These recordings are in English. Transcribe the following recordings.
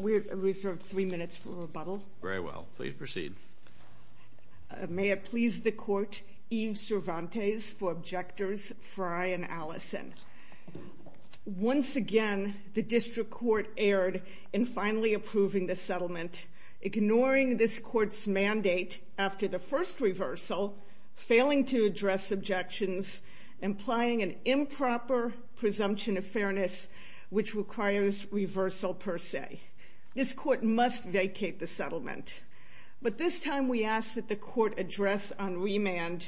May I please the Court, Yves Cervantes, for Objectors Frye and Allison. Once again, the District Court erred in finally approving the settlement, ignoring this Court's mandate after the first reversal, failing to address objections, implying an improper presumption of fairness which requires reversal per se. This Court must vacate the settlement. But this time we ask that the Court address on remand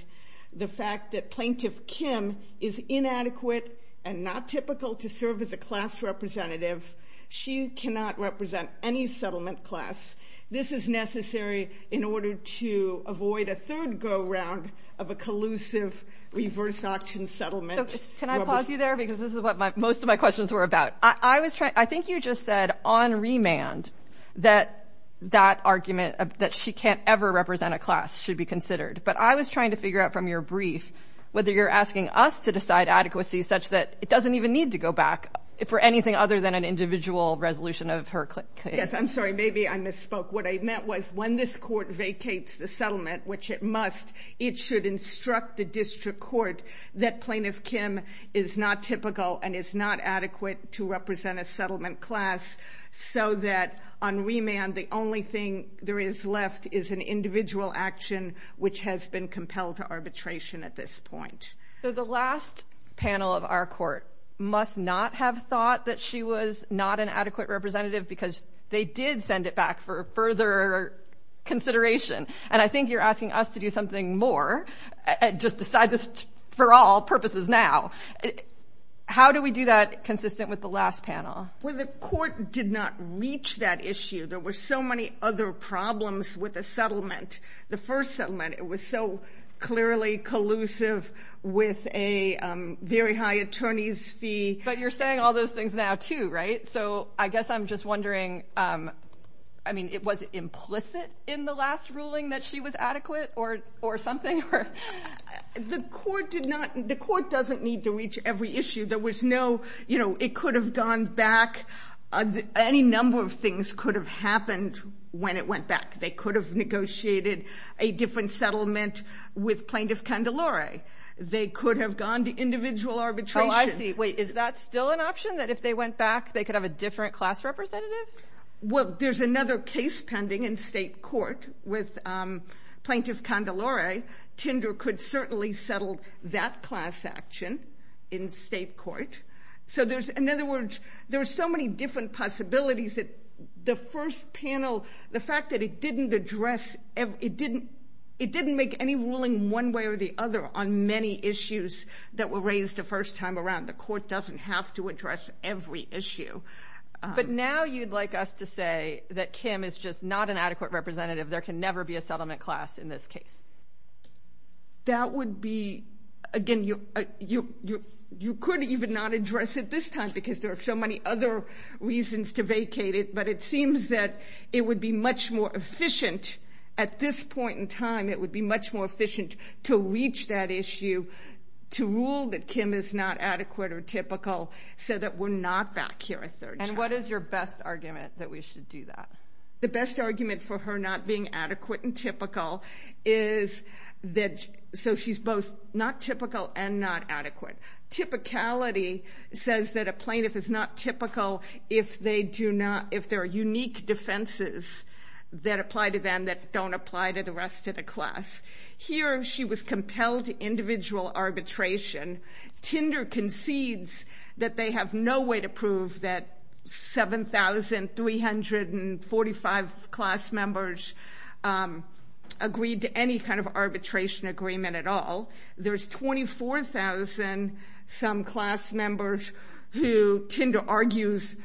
the fact that Plaintiff Kim is inadequate and not typical to serve as a class representative. She cannot represent any settlement class. This is necessary in order to avoid a third go-round of a collusive reverse auction settlement. So can I pause you there because this is what most of my questions were about. I was trying, I think you just said on remand that that argument that she can't ever represent a class should be considered. But I was trying to figure out from your brief whether you're asking us to decide adequacy such that it doesn't even need to go back for anything other than an individual resolution of her case. Yes, I'm sorry. Maybe I misspoke. What I meant was when this Court vacates the settlement, which it must, it should instruct the District Court that Plaintiff Kim is not typical and is not adequate to represent a settlement class so that on remand the only thing there is left is an individual action which has been compelled to arbitration at this point. So the last panel of our Court must not have thought that she was not an adequate representative because they did send it back for further consideration. And I think you're asking us to do something more, just decide this for all purposes now. How do we do that consistent with the last panel? Well, the Court did not reach that issue. There were so many other problems with the settlement. The first settlement, it was so clearly collusive with a very high attorney's fee. But you're saying all those things now too, right? So I guess I'm just wondering, I mean, it was implicit in the last ruling that she was adequate or something? The Court did not, the Court doesn't need to reach every issue. There was no, you know, it could have gone back. Any number of things could have happened when it went back. They could have negotiated a different settlement with Plaintiff Candelari. They could have gone to individual arbitration. Oh, I see. Wait, is that still an option, that if they went back, they could have a different class representative? Well, there's another case pending in state court with Plaintiff Candelari. Tinder could certainly settle that class action in state court. So there's, in other words, there are so many different possibilities that the first panel, the fact that it didn't address, it didn't make any ruling one way or the other on many issues that were raised the first time around. The Court doesn't have to address every issue. But now you'd like us to say that Kim is just not an adequate representative. There can never be a settlement class in this case. That would be, again, you could even not address it this time because there are so many other reasons to vacate it. But it seems that it would be much more efficient at this point in time. It would be much more efficient to reach that issue, to rule that Kim is not adequate or typical so that we're not back here a third time. And what is your best argument that we should do that? The best argument for her not being adequate and typical is that, so she's both not typical and not adequate. Typicality says that a plaintiff is not typical if they do not, if there are unique defenses that apply to them that don't apply to the rest of the class. Here, she was compelled to individual arbitration. Tinder concedes that they have no way to prove that 7,345 class members agreed to any kind of arbitration agreement at all. There's 24,000-some class members who Tinder argues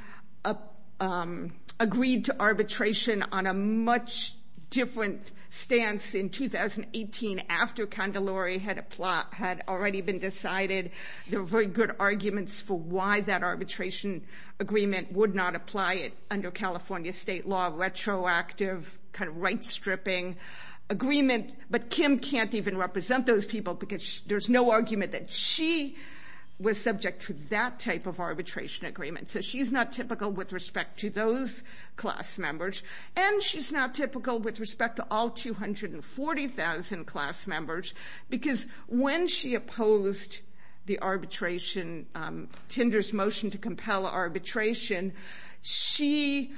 agreed to arbitration on a much different stance in 2018 after Candelari had already been decided. There were very good arguments for why that arbitration agreement would not apply under California state law, retroactive, kind of right-stripping agreement. But Kim can't even represent those people because there's no argument that she was subject to that type of arbitration agreement. So she's not typical with respect to those class members. And she's not typical with respect to all 240,000 class members because when she opposed the arbitration, Tinder's motion to compel arbitration, she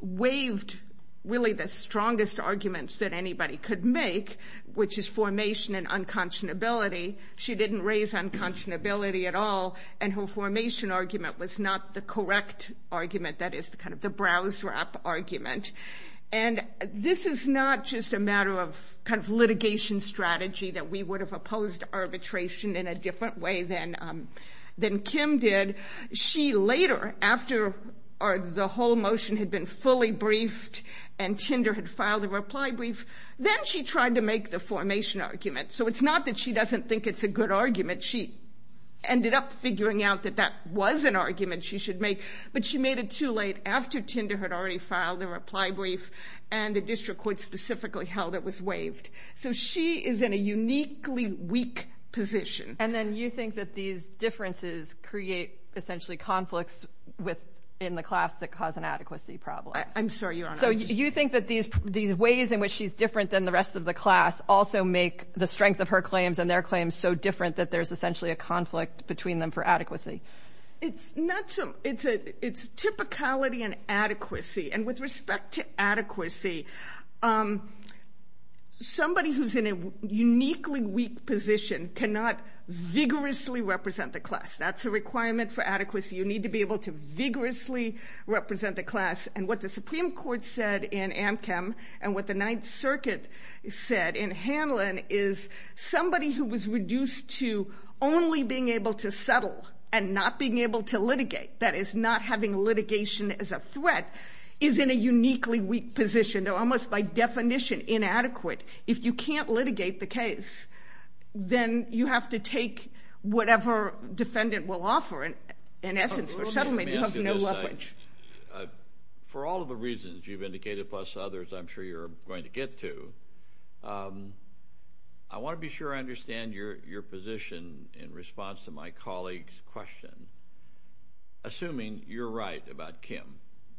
waived really the strongest arguments that anybody could make, which is formation and unconscionability. She didn't raise unconscionability at all, and her formation argument was not the correct argument that is kind of the browse-wrap argument. And this is not just a matter of kind of litigation strategy that we would have opposed arbitration in a different way than Kim did. She later, after the whole motion had been fully briefed and Tinder had filed a reply brief, then she tried to make the formation argument. So it's not that she doesn't think it's a good argument. She ended up figuring out that that was an argument she should make, but she made it too late after Tinder had already filed the reply brief and the district court specifically held it was waived. So she is in a uniquely weak position. And then you think that these differences create essentially conflicts in the class that cause an adequacy problem. I'm sorry, Your Honor. So you think that these ways in which she's different than the rest of the class also make the strength of her claims and their claims so different that there's essentially a conflict between them for adequacy? It's typicality and adequacy, and with respect to adequacy, somebody who's in a uniquely weak position cannot vigorously represent the class. That's a requirement for adequacy. You need to be able to vigorously represent the class. And what the Supreme Court said in Amchem and what the Ninth Circuit said in Hanlon is somebody who was reduced to only being able to settle and not being able to litigate, that is not having litigation as a threat, is in a uniquely weak position, though almost by definition inadequate. If you can't litigate the case, then you have to take whatever defendant will offer. In essence, for settlement, you have no leverage. For all of the reasons you've indicated, plus others I'm sure you're going to get to, I want to be sure I understand your position in response to my colleague's question, assuming you're right about Kim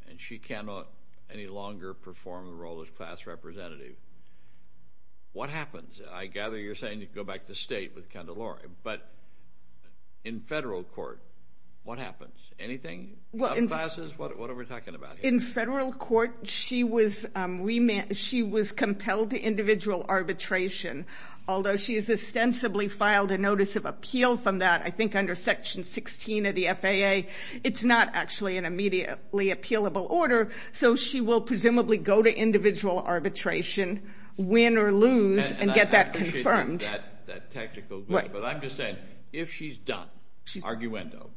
and she cannot any longer perform the role of class representative, what happens? I gather you're saying you can go back to state with Kendall-Lori, but in federal court, what happens? Anything? Subclasses? What are we talking about here? In federal court, she was compelled to individual arbitration, although she has ostensibly filed a notice of appeal from that, I think under Section 16 of the FAA. It's not actually an immediately appealable order, so she will presumably go to individual arbitration, win or lose, and get that confirmed. And I appreciate that technical, but I'm just saying, if she's done, arguendo,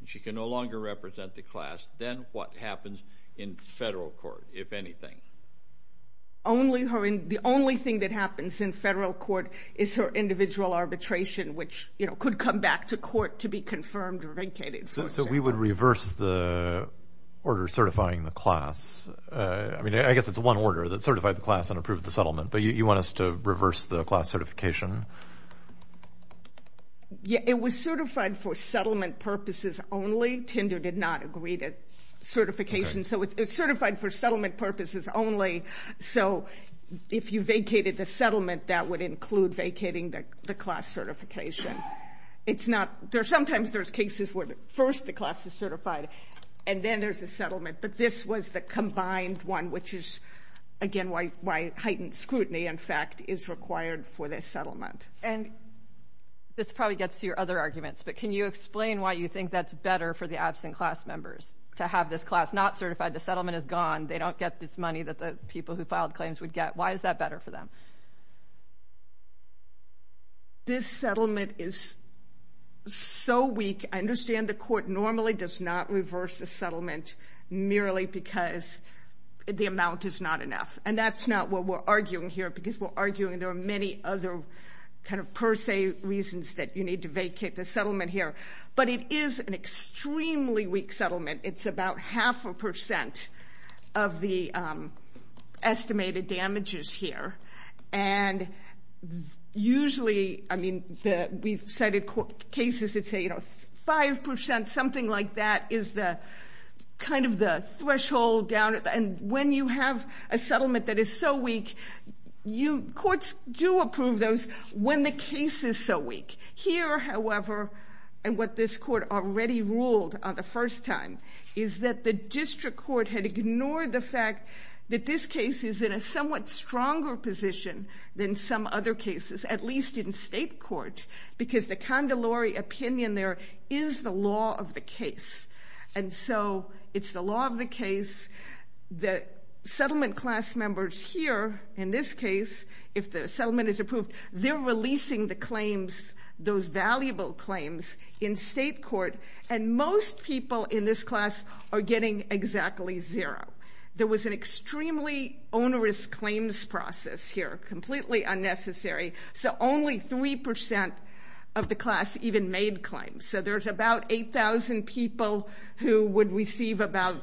and she can no longer represent the class, then what happens in federal court, if anything? The only thing that happens in federal court is her individual arbitration, which could come back to court to be confirmed or vacated. So we would reverse the order certifying the class. I mean, I guess it's one order, that certify the class and approve the settlement, but you want us to reverse the class certification? Yeah, it was certified for settlement purposes only. Tinder did not agree to certification, so it's certified for settlement purposes only. So if you vacated the settlement, that would include vacating the class certification. It's not, there's sometimes there's cases where first the class is certified, and then there's a settlement, but this was the combined one, which is, again, why heightened scrutiny, in fact, is required for the settlement. And this probably gets to your other arguments, but can you explain why you think that's better for the absent class members, to have this class not certified, the settlement is gone, they don't get this money that the people who filed claims would get? Why is that better for them? Well, this settlement is so weak, I understand the court normally does not reverse the settlement merely because the amount is not enough. And that's not what we're arguing here, because we're arguing there are many other kind of per se reasons that you need to vacate the settlement here. But it is an extremely weak settlement. It's about half a percent of the estimated damages here. And usually, I mean, we've cited cases that say, you know, 5%, something like that is the kind of the threshold down, and when you have a settlement that is so weak, you, courts do approve those when the case is so weak. Here, however, and what this court already ruled on the first time, is that the district court had ignored the fact that this case is in a somewhat stronger position than some other cases, at least in state court, because the condolory opinion there is the law of the case. And so it's the law of the case that settlement class members here, in this case, if the settlement is approved, they're releasing the claims, those valuable claims in state court, and most people in this class are getting exactly zero. There was an extremely onerous claims process here, completely unnecessary. So only 3% of the class even made claims. So there's about 8,000 people who would receive about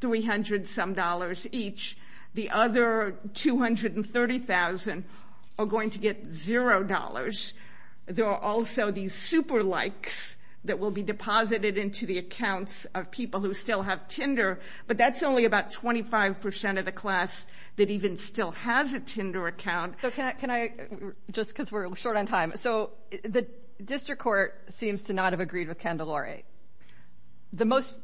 $300 some dollars each. The other 230,000 are going to get $0. There are also these super likes that will be deposited into the accounts of people who still have Tinder, but that's only about 25% of the class that even still has a Tinder account. So can I, just because we're short on time, so the district court seems to not have agreed with condolory. The most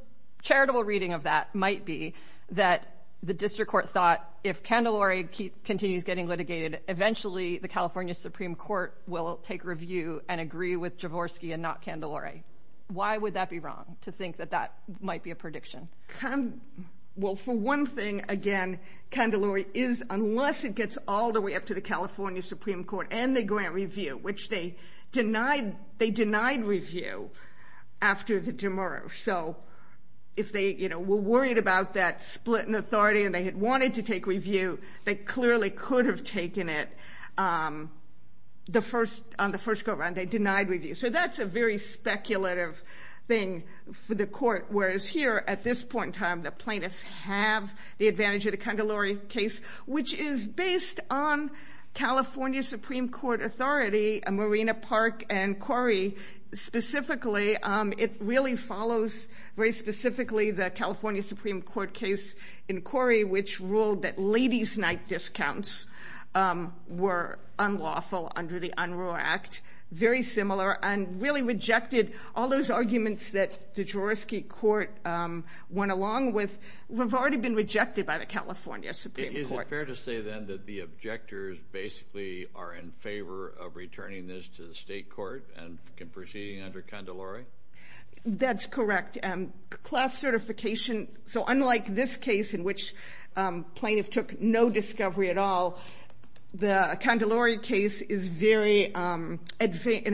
charitable reading of that might be that the district court thought if condolory continues getting litigated, eventually the California Supreme Court will take review and agree with Jaworski and not condolory. Why would that be wrong to think that that might be a prediction? Well, for one thing, again, condolory is, unless it gets all the way up to the California So if they, you know, were worried about that split in authority and they had wanted to take review, they clearly could have taken it on the first go around. They denied review. So that's a very speculative thing for the court, whereas here at this point in time, the plaintiffs have the advantage of the condolory case, which is based on California Supreme Court authority, Marina Park and Corey, specifically. It really follows very specifically the California Supreme Court case in Corey, which ruled that ladies' night discounts were unlawful under the Unruh Act. Very similar and really rejected all those arguments that the Jaworski court went along with have already been rejected by the California Supreme Court. Is it fair to say, then, that the objectors basically are in favor of returning this to the state court and proceeding under condolory? That's correct. Class certification. So unlike this case in which plaintiff took no discovery at all, the condolory case is very in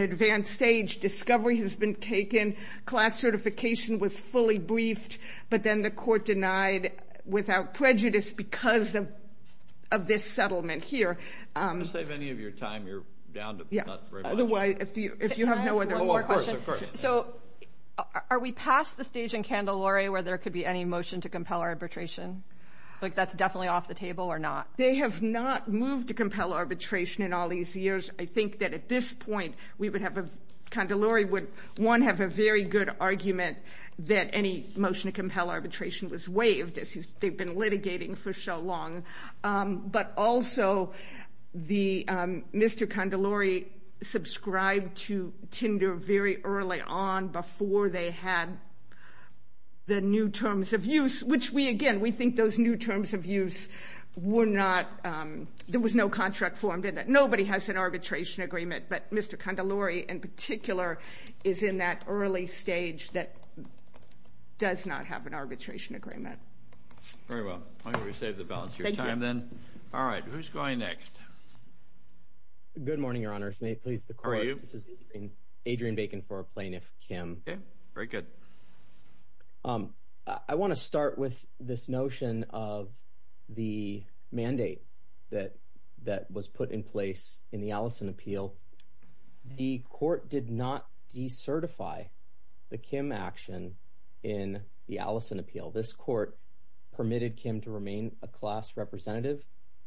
advanced stage. Discovery has been taken. Class certification was fully briefed. But then the court denied without prejudice because of this settlement here. To save any of your time, you're down to not very much. Otherwise, if you have no other... Can I ask one more question? Oh, of course. Of course. So are we past the stage in condolory where there could be any motion to compel arbitration? Like, that's definitely off the table or not? They have not moved to compel arbitration in all these years. I think that at this point, we would have a... I don't think compel arbitration was waived, as they've been litigating for so long. But also, Mr. Condolory subscribed to Tinder very early on before they had the new terms of use, which we, again, we think those new terms of use were not... There was no contract formed in that. Nobody has an arbitration agreement, but Mr. Condolory, in particular, is in that early stage that does not have an arbitration agreement. Very well. I'm going to save the balance of your time then. Thank you. All right. Who's going next? Good morning, Your Honors. May it please the Court? How are you? This is Adrian Bacon for Plaintiff Kim. Okay. Very good. I want to start with this notion of the mandate that was put in place in the Allison Appeal. The Court did not decertify the Kim action in the Allison Appeal. This Court permitted Kim to remain a class representative,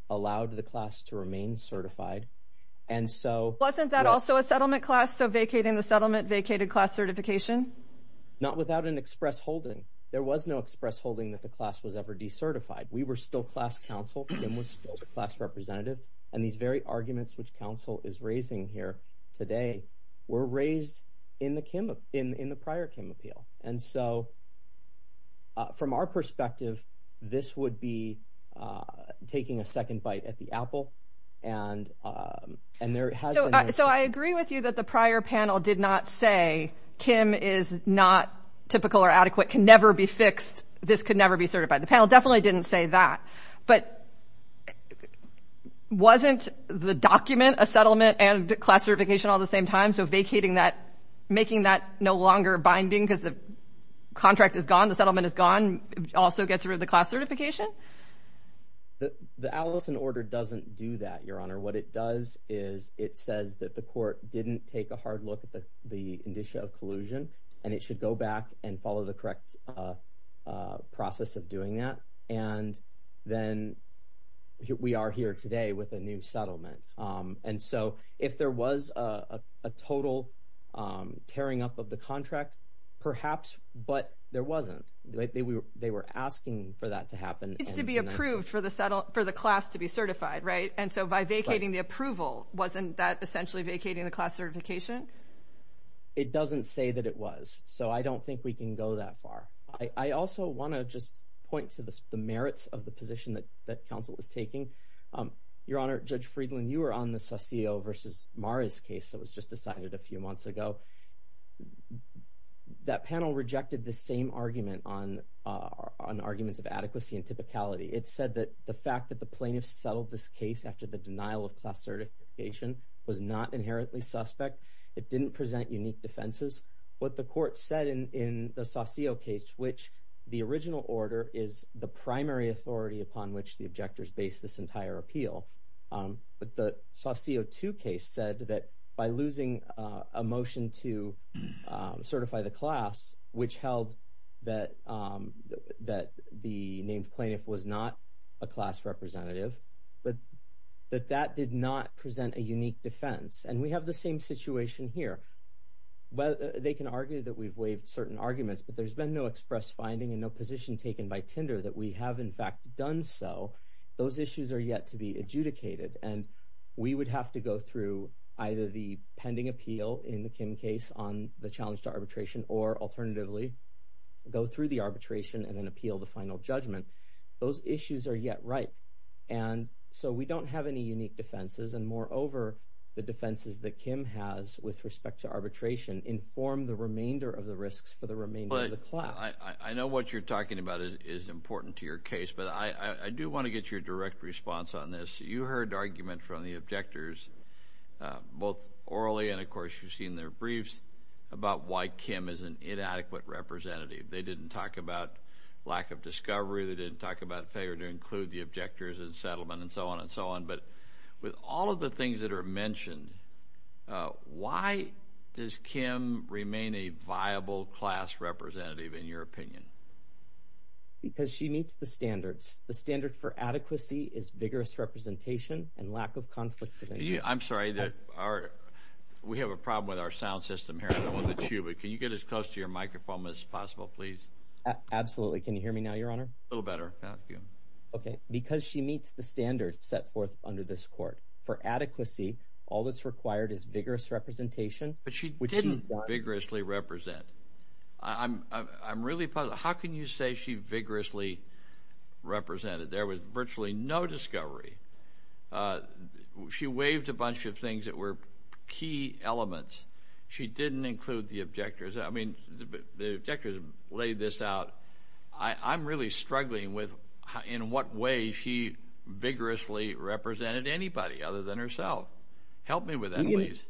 allowed the class to remain certified, and so... Wasn't that also a settlement class, so vacating the settlement vacated class certification? Not without an express holding. There was no express holding that the class was ever decertified. We were still class counsel. Kim was still the class representative. These very arguments, which counsel is raising here today, were raised in the prior Kim appeal. From our perspective, this would be taking a second bite at the apple, and there has been... I agree with you that the prior panel did not say, Kim is not typical or adequate, can never be fixed. This could never be certified. The panel definitely didn't say that, but wasn't the document a settlement and class certification all at the same time? So vacating that, making that no longer binding because the contract is gone, the settlement is gone, also gets rid of the class certification? The Allison order doesn't do that, Your Honor. What it does is it says that the Court didn't take a hard look at the indicia of collusion, and it should go back and follow the correct process of doing that, and then we are here today with a new settlement. And so if there was a total tearing up of the contract, perhaps, but there wasn't. They were asking for that to happen. It's to be approved for the class to be certified, right? And so by vacating the approval, wasn't that essentially vacating the class certification? It doesn't say that it was, so I don't think we can go that far. I also want to just point to the merits of the position that counsel is taking. Your Honor, Judge Friedland, you were on the Saucillo v. Mara's case that was just decided a few months ago. That panel rejected the same argument on arguments of adequacy and typicality. It said that the fact that the plaintiff settled this case after the denial of class certification was not inherently suspect. It didn't present unique defenses. What the court said in the Saucillo case, which the original order is the primary authority upon which the objectors base this entire appeal, but the Saucillo 2 case said that by losing a motion to certify the class, which held that the named plaintiff was not a class representative, but that that did not present a unique defense. And we have the same situation here. They can argue that we've waived certain arguments, but there's been no express finding and no position taken by Tinder that we have in fact done so. Those issues are yet to be adjudicated, and we would have to go through either the pending appeal in the Kim case on the challenge to arbitration or alternatively go through the arbitration and then appeal the final judgment. Those issues are yet ripe, and so we don't have any unique defenses, and moreover, the defenses that Kim has with respect to arbitration inform the remainder of the risks for the remainder of the class. But I know what you're talking about is important to your case, but I do want to get your direct response on this. You heard arguments from the objectors, both orally and of course you've seen their briefs, about why Kim is an inadequate representative. They didn't talk about lack of discovery, they didn't talk about failure to include the objectors in settlement, and so on and so on. But with all of the things that are mentioned, why does Kim remain a viable class representative in your opinion? Because she meets the standards. The standard for adequacy is vigorous representation and lack of conflict of interest. I'm sorry, we have a problem with our sound system here, I don't want to chew, but can you get as close to your microphone as possible, please? Absolutely, can you hear me now, your honor? A little better. Thank you. Okay, because she meets the standards set forth under this court. For adequacy, all that's required is vigorous representation. But she didn't vigorously represent. I'm really puzzled, how can you say she vigorously represented? There was virtually no discovery. She waived a bunch of things that were key elements. She didn't include the objectors. I mean, the objectors laid this out. I'm really struggling with in what way she vigorously represented anybody other than herself. Help me with that, please.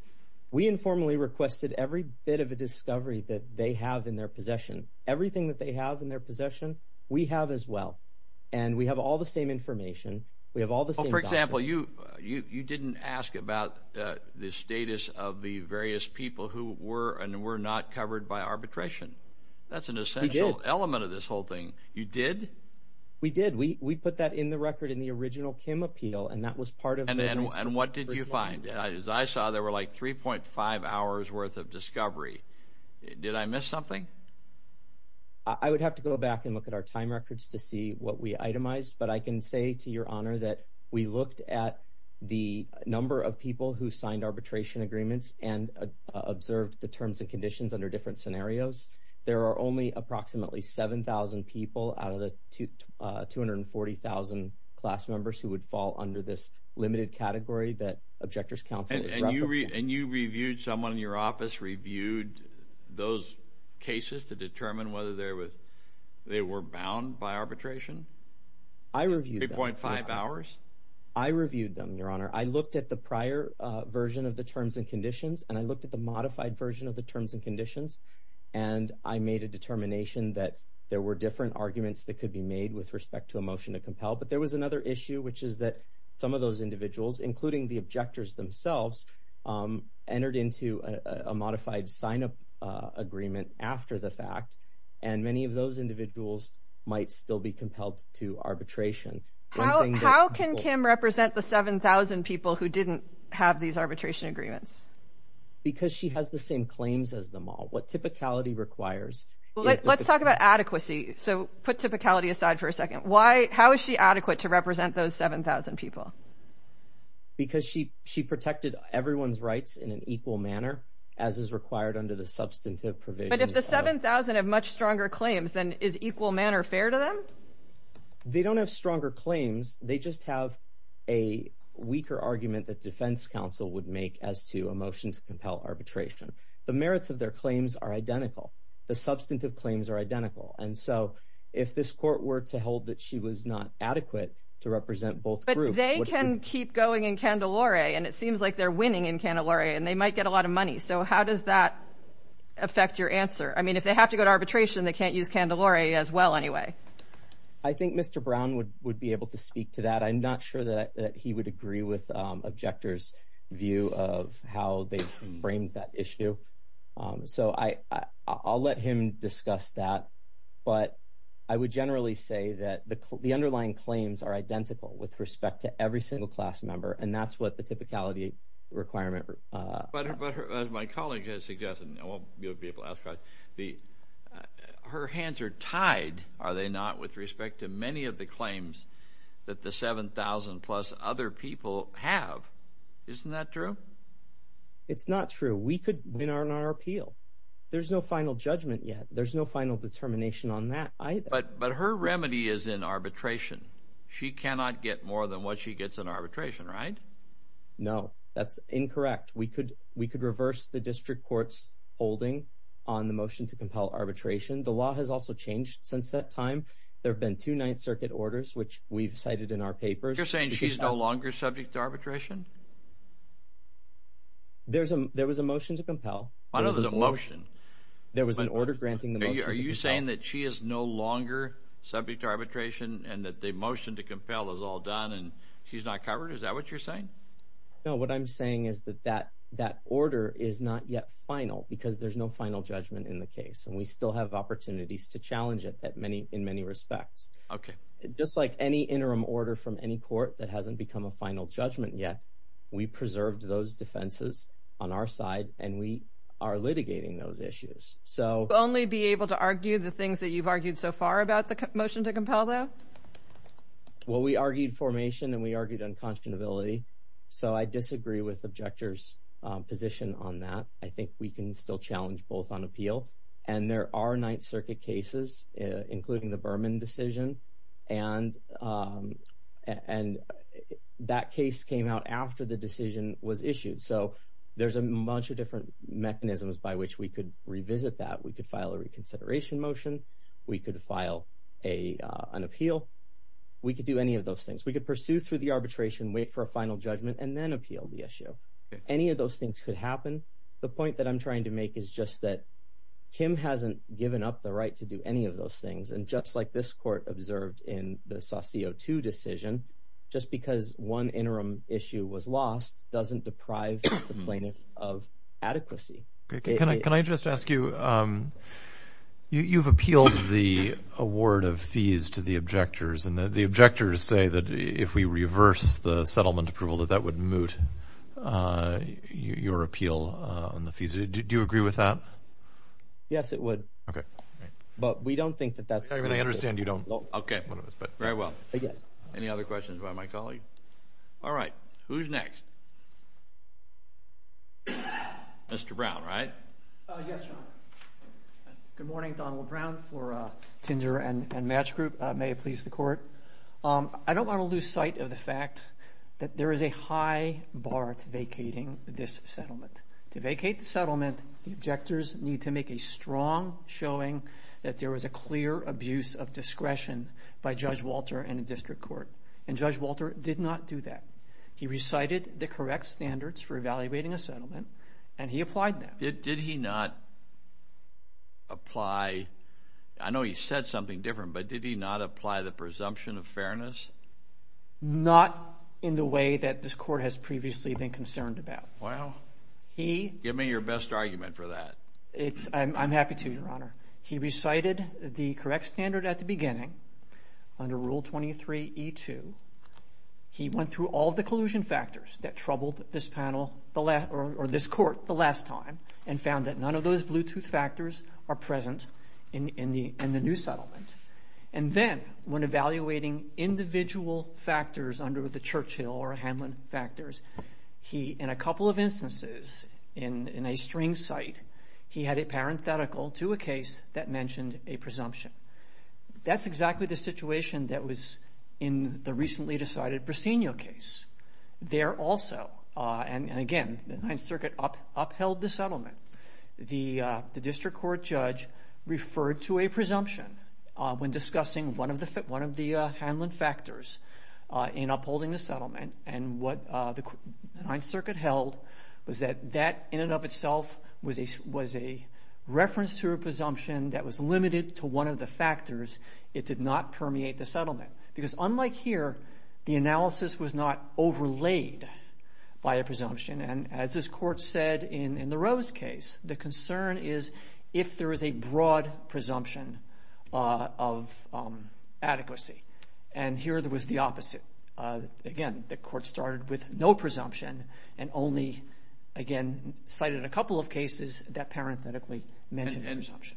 We informally requested every bit of a discovery that they have in their possession. Everything that they have in their possession, we have as well. And we have all the same information. We have all the same documents. Well, you didn't ask about the status of the various people who were and were not covered by arbitration. We did. That's an essential element of this whole thing. You did? We did. We put that in the record in the original Kim appeal, and that was part of the answer. And what did you find? As I saw, there were like 3.5 hours worth of discovery. Did I miss something? I would have to go back and look at our time records to see what we itemized. But I can say to your honor that we looked at the number of people who signed arbitration agreements and observed the terms and conditions under different scenarios. There are only approximately 7,000 people out of the 240,000 class members who would fall under this limited category that objectors counsel. And you reviewed someone in your office, reviewed those cases to determine whether they were bound by arbitration. I reviewed 0.5 hours. I reviewed them. Your honor, I looked at the prior version of the terms and conditions, and I looked at the modified version of the terms and conditions, and I made a determination that there were different arguments that could be made with respect to a motion to compel. But there was another issue, which is that some of those individuals, including the objectors themselves, entered into a modified sign up agreement after the fact. And many of those individuals might still be compelled to arbitration. How can Kim represent the 7,000 people who didn't have these arbitration agreements? Because she has the same claims as them all. What typicality requires... Let's talk about adequacy. So put typicality aside for a second. How is she adequate to represent those 7,000 people? Because she protected everyone's rights in an equal manner, as is required under the substantive provisions. But if the 7,000 have much stronger claims, then is equal manner fair to them? They don't have stronger claims. They just have a weaker argument that defense counsel would make as to a motion to compel arbitration. The merits of their claims are identical. The substantive claims are identical. And so if this court were to hold that she was not adequate to represent both groups... But they can keep going in candelaria, and it seems like they're winning in candelaria, and they might get a lot of money. So how does that affect your answer? I mean, if they have to go to arbitration, they can't use candelaria as well anyway. I think Mr. Brown would be able to speak to that. I'm not sure that he would agree with Objector's view of how they framed that issue. So I'll let him discuss that. But I would generally say that the underlying claims are identical with respect to every single class member. And that's what the typicality requirement... But as my colleague has suggested, and I won't be able to ask questions, her hands are tied, are they not, with respect to many of the claims that the 7,000-plus other people have. Isn't that true? It's not true. We could win on our appeal. There's no final judgment yet. There's no final determination on that either. But her remedy is in arbitration. She cannot get more than what she gets in arbitration, right? No. That's incorrect. We could reverse the district court's holding on the motion to compel arbitration. The law has also changed since that time. There have been two Ninth Circuit orders, which we've cited in our papers. You're saying she's no longer subject to arbitration? There was a motion to compel. What is a motion? There was an order granting the motion to compel. Are you saying that she is no longer subject to arbitration and that the motion to compel is all done and she's not covered? Is that what you're saying? No. What I'm saying is that that order is not yet final because there's no final judgment in the case. And we still have opportunities to challenge it in many respects. Just like any interim order from any court that hasn't become a final judgment yet, we preserved those defenses on our side and we are litigating those issues. So only be able to argue the things that you've argued so far about the motion to compel, though? Well, we argued formation and we argued unconscionability. So I disagree with the objector's position on that. I think we can still challenge both on appeal. And there are Ninth Circuit cases, including the Berman decision, and that case came out after the decision was issued. So there's a bunch of different mechanisms by which we could revisit that. We could file a reconsideration motion. We could file an appeal. We could do any of those things. We could pursue through the arbitration, wait for a final judgment and then appeal the issue. Any of those things could happen. The point that I'm trying to make is just that Kim hasn't given up the right to do any of those things. And just like this court observed in the Saucio II decision, just because one interim issue was lost doesn't deprive the plaintiff of adequacy. Can I just ask you, you've appealed the award of fees to the objectors and the objectors say that if we reverse the settlement approval that that would moot your appeal on the fees. Do you agree with that? Yes, it would. But we don't think that that's correct. I understand you don't. Okay, very well. Any other questions by my colleague? All right. Who's next? Mr. Brown, right? Yes, Your Honor. Good morning, Donald Brown for Tinder and Match Group. May it please the Court. I don't want to lose sight of the fact that there is a high bar to vacating this settlement. To vacate the settlement, the objectors need to make a strong showing that there was a clear abuse of discretion by Judge Walter in the district court. And Judge Walter did not do that. He recited the correct standards for evaluating a settlement and he applied them. Did he not apply, I know he said something different, but did he not apply the presumption of fairness? Not in the way that this Court has previously been concerned about. Wow. Give me your best argument for that. I'm happy to, Your Honor. He recited the correct standard at the beginning under Rule 23E2. He went through all the collusion factors that troubled this panel or this Court the last time and found that none of those Bluetooth factors are present in the new settlement. And then when evaluating individual factors under the Churchill or Hamlin factors, he in a couple of instances in a string site, he had it parenthetical to a case that mentioned a presumption. That's exactly the situation that was in the recently decided Briseno case. There also, and again, the Ninth Circuit upheld the settlement. The district court judge referred to a presumption when discussing one of the Hamlin factors in upholding the settlement, and what the Ninth Circuit held was that that in and of itself was a reference to a presumption that was limited to one of the factors. It did not permeate the settlement. Because unlike here, the analysis was not overlaid by a presumption. And as this Court said in the Rose case, the concern is if there is a broad presumption of adequacy. And here there was the opposite. Again, the Court started with no presumption and only, again, cited a couple of cases that parenthetically mentioned a presumption.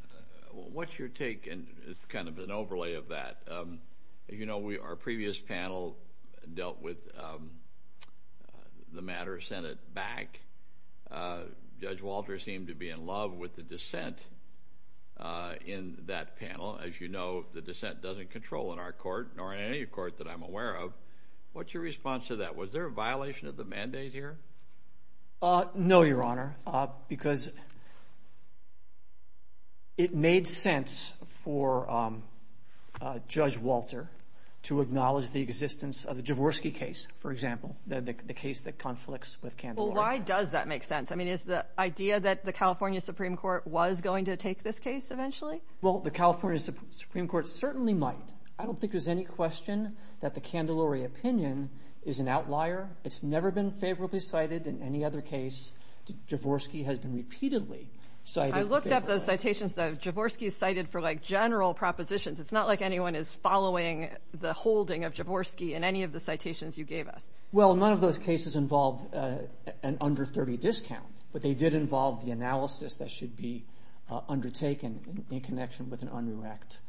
What's your take, and it's kind of an overlay of that, you know, our previous panel dealt with the matter sent it back. Judge Walter seemed to be in love with the dissent in that panel. As you know, the dissent doesn't control in our court, nor in any court that I'm aware of. What's your response to that? Was there a violation of the mandate here? No, Your Honor, because it made sense for Judge Walter to acknowledge the existence of the Jaworski case, for example, the case that conflicts with Kandler. Well, why does that make sense? I mean, is the idea that the California Supreme Court was going to take this case eventually? Well, the California Supreme Court certainly might. I don't think there's any question that the Kandler opinion is an outlier. It's never been favorably cited in any other case. Jaworski has been repeatedly cited favorably. I looked up those citations, though. Jaworski is cited for, like, general propositions. It's not like anyone is following the holding of Jaworski in any of the citations you gave us. Well, none of those cases involved an under 30 discount, but they did involve the analysis that should be undertaken in connection with an undirect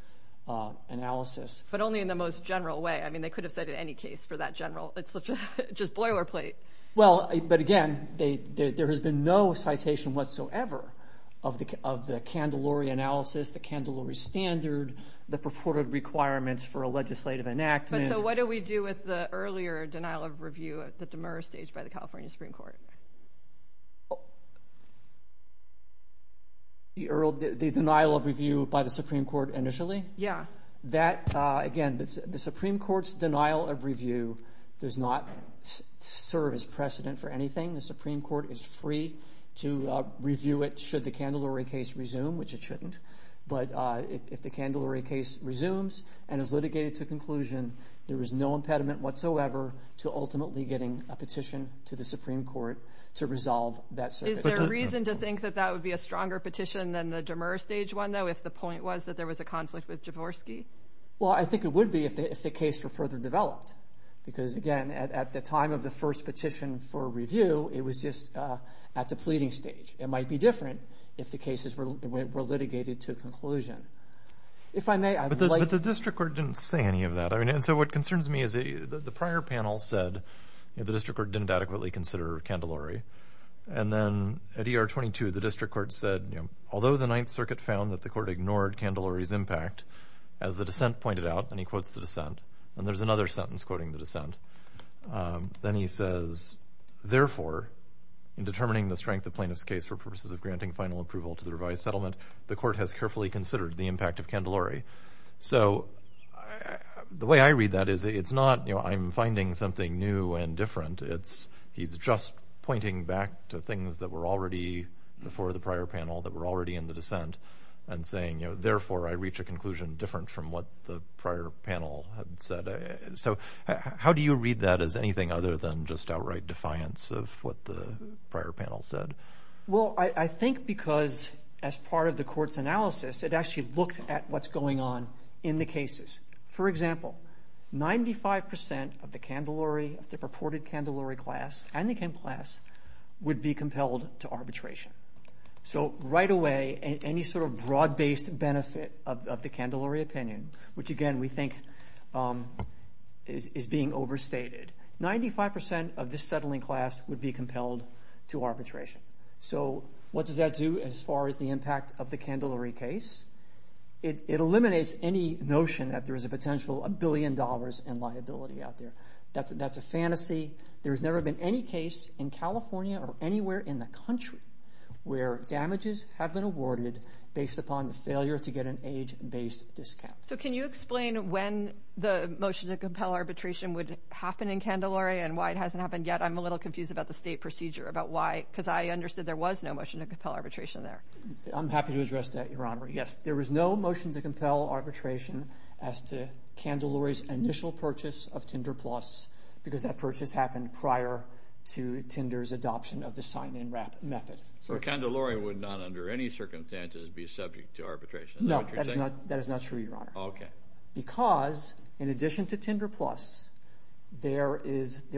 analysis. But only in the most general way. I mean, they could have said in any case for that general. It's just boilerplate. Well, but again, there has been no citation whatsoever of the Kandler analysis, the Kandler standard, the purported requirements for a legislative enactment. So what do we do with the earlier denial of review at the Demurra stage by the California Supreme Court? The denial of review by the Supreme Court initially? Yeah. That, again, the Supreme Court's denial of review does not serve as precedent for anything. The Supreme Court is free to review it should the Kandler case resume, which it shouldn't. But if the Kandler case resumes and is litigated to conclusion, there is no impediment whatsoever to ultimately getting a petition to the Supreme Court to resolve that. Is there reason to think that that would be a stronger petition than the Demurra stage one, though, if the point was that there was a conflict with Jaworski? Well, I think it would be if the case were further developed. Because, again, at the time of the first petition for review, it was just at the pleading stage. It might be different if the cases were litigated to conclusion. But the district court didn't say any of that. And so what concerns me is the prior panel said the district court didn't adequately consider Candelari. And then at ER 22, the district court said, although the Ninth Circuit found that the court ignored Candelari's impact, as the dissent pointed out, and he quotes the dissent, and there's another sentence quoting the dissent, then he says, therefore, in determining the strength of plaintiff's case for purposes of granting final approval to the revised settlement, the court has carefully considered the impact of Candelari. So the way I read that is it's not, you know, I'm finding something new and different. It's he's just pointing back to things that were already before the prior panel that were already in the dissent and saying, you know, therefore, I reach a conclusion different from what the prior panel had said. So how do you read that as anything other than just outright defiance of what the prior panel said? Well, I think because as part of the court's analysis, it actually looked at what's going on in the cases. For example, 95 percent of the Candelari, the purported Candelari class and the Kim class would be compelled to arbitration. So right away, any sort of broad-based benefit of the Candelari opinion, which again we think is being overstated, 95 percent of this settling class would be compelled to arbitration. So what does that do as far as the impact of the Candelari case? It eliminates any notion that there is a potential $1 billion in liability out there. That's a fantasy. There has never been any case in California or anywhere in the country where damages have been awarded based upon the failure to get an age based discount. So can you explain when the motion to compel arbitration would happen in Candelari and why it hasn't happened yet? I'm a little confused about the state procedure, about why, because I understood there was no motion to compel arbitration there. Yes, there was no motion to compel arbitration as to Candelari's initial purchase of Tinder Plus, because that purchase happened prior to Tinder's adoption of the sign-and-wrap method. So Candelari would not under any circumstances be subject to arbitration, is that what you're saying? No, that is not true, Your Honor. Because in addition to Tinder Plus, there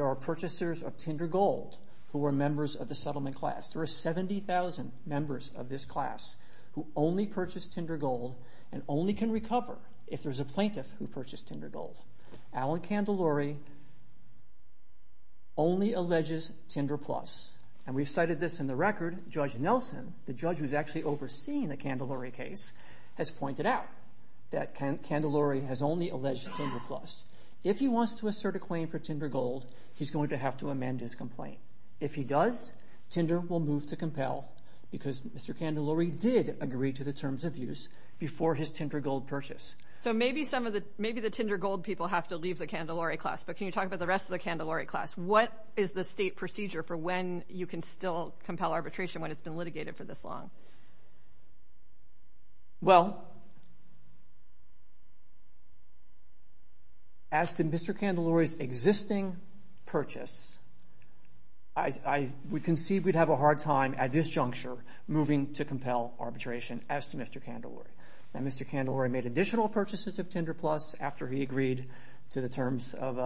are purchasers of Tinder Gold who are members of the settlement class. There are 70,000 members of this class who only purchase Tinder Gold and only can recover if there's a plaintiff who purchased Tinder Gold. Alan Candelari only alleges Tinder Plus. And we've cited this in the record. Judge Nelson, the judge who's actually overseeing the Candelari case, has pointed out that Candelari has only alleged Tinder Plus. If he wants to assert a claim for Tinder Gold, he's going to have to amend his complaint. If he does, Tinder will move to compel, because Mr. Candelari did agree to the terms of use before his Tinder Gold purchase. So maybe the Tinder Gold people have to leave the Candelari class, but can you talk about the rest of the Candelari class? What is the state procedure for when you can still compel arbitration when it's been litigated for this long? Well, as to Mr. Candelari's existing purchase, we conceived we'd have a hard time at this juncture moving to compel arbitration as to Mr. Candelari. Now, Mr. Candelari made additional purchases of Tinder Plus after he agreed to the terms of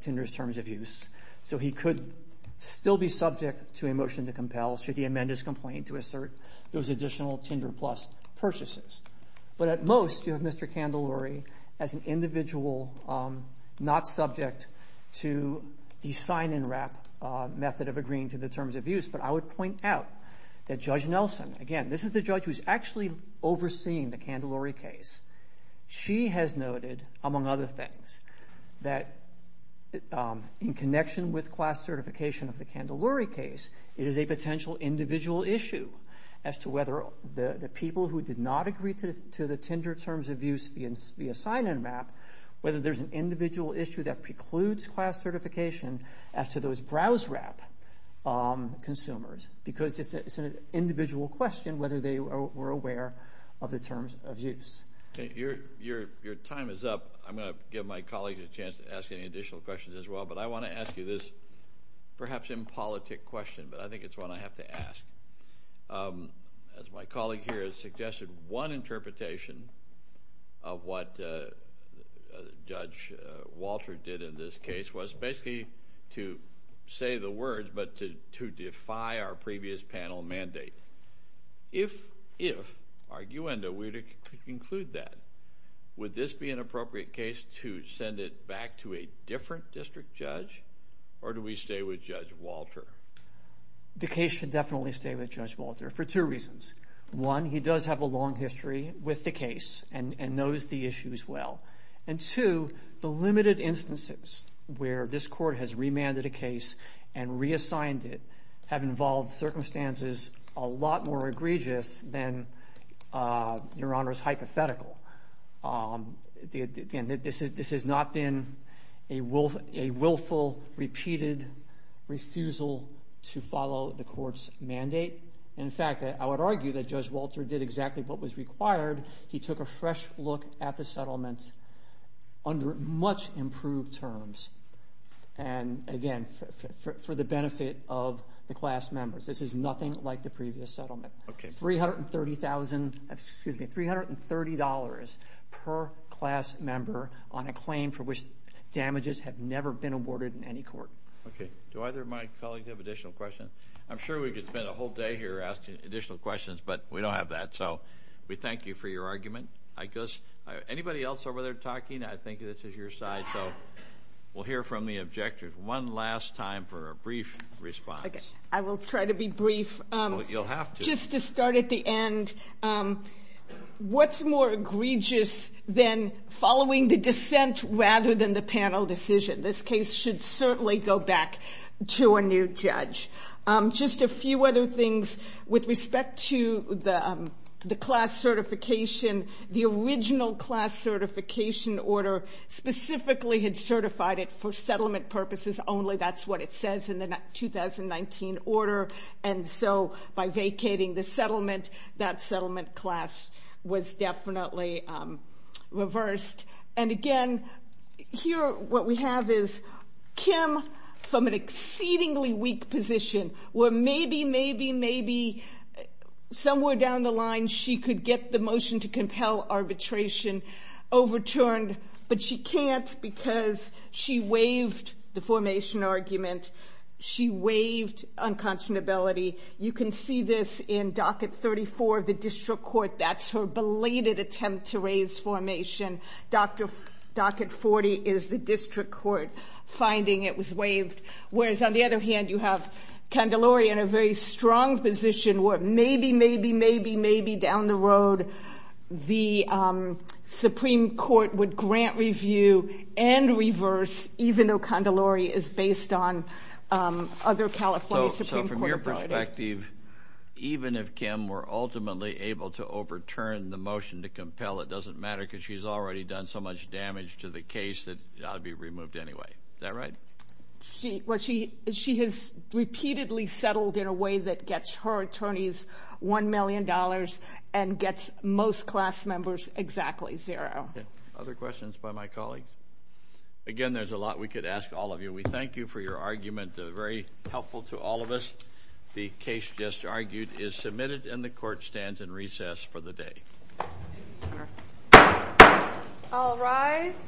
Tinder's terms of use, so he could still be subject to a motion to compel should he amend his complaint to assert those additional Tinder Plus purchases. But at most, you have Mr. Candelari as an individual not subject to the sign-and-wrap method of agreeing to the terms of use. But I would point out that Judge Nelson – again, this is the judge who's actually overseeing the Candelari case – she has noted, among other things, that in connection with class certification of the Candelari case, it is a potential individual issue as to whether the people who did not agree to the Tinder terms of use via sign-and-wrap, whether there's an individual issue that precludes class certification as to those browse-wrap consumers, because it's an individual question whether they were aware of the terms of use. Your time is up. I'm going to give my colleague a chance to ask any additional questions as well, but I want to ask you this perhaps impolitic question, but I think it's one I have to ask. As my colleague here has suggested, one interpretation of what Judge Walter did in this case was basically to say the words, but to defy our previous panel mandate. If, arguendo, we were to conclude that, would this be an appropriate case to send it back to a different district judge, or do we stay with Judge Walter? The case should definitely stay with Judge Walter for two reasons. One, he does have a long history with the case and knows the issues well. And two, the limited instances where this court has remanded a case and reassigned it have involved circumstances a lot more egregious than Your Honor's hypothetical. This has not been a willful, repeated refusal to follow the court's mandate. In fact, I would argue that Judge Walter did exactly what was required. He took a fresh look at the settlement under much improved terms, and again, for the benefit of the class members. This is nothing like the previous settlement. $330,000 per class member on a claim for which damages have never been awarded in any court. Okay. Do either of my colleagues have additional questions? I'm sure we could spend a whole day here asking additional questions, but we don't have that, so we thank you for your argument. Anybody else over there talking? I think this is your side, so we'll hear from the objectors one last time for a brief response. Okay. I will try to be brief. You'll have to. Just to start at the end, what's more egregious than following the dissent rather than the panel decision? This case should certainly go back to a new judge. Just a few other things with respect to the class certification. The original class certification order specifically had certified it for settlement purposes only. That's what it says in the 2019 order, and so by vacating the settlement, that settlement class was definitely reversed. And again, here what we have is Kim from an exceedingly weak position where maybe, maybe, maybe somewhere down the line, she could get the motion to compel arbitration overturned, but she can't because she waived the formation argument. She waived unconscionability. You can see this in docket 34 of the district court. That's her belated attempt to raise formation. Docket 40 is the district court finding it was waived, whereas on the other hand, you have Candelaria in a very strong position where maybe, maybe, maybe, maybe down the road, the Supreme Court would grant review and reverse, even though Candelaria is based on other California Supreme Court judges. From your perspective, even if Kim were ultimately able to overturn the motion to compel, it doesn't matter because she's already done so much damage to the case that it ought to be removed anyway. Is that right? She has repeatedly settled in a way that gets her attorneys $1 million and gets most class members exactly zero. Other questions by my colleagues? Again, there's a lot we could ask all of you. We thank you for your argument. Very helpful to all of us. The case just argued is submitted and the court stands in recess for the day. All rise.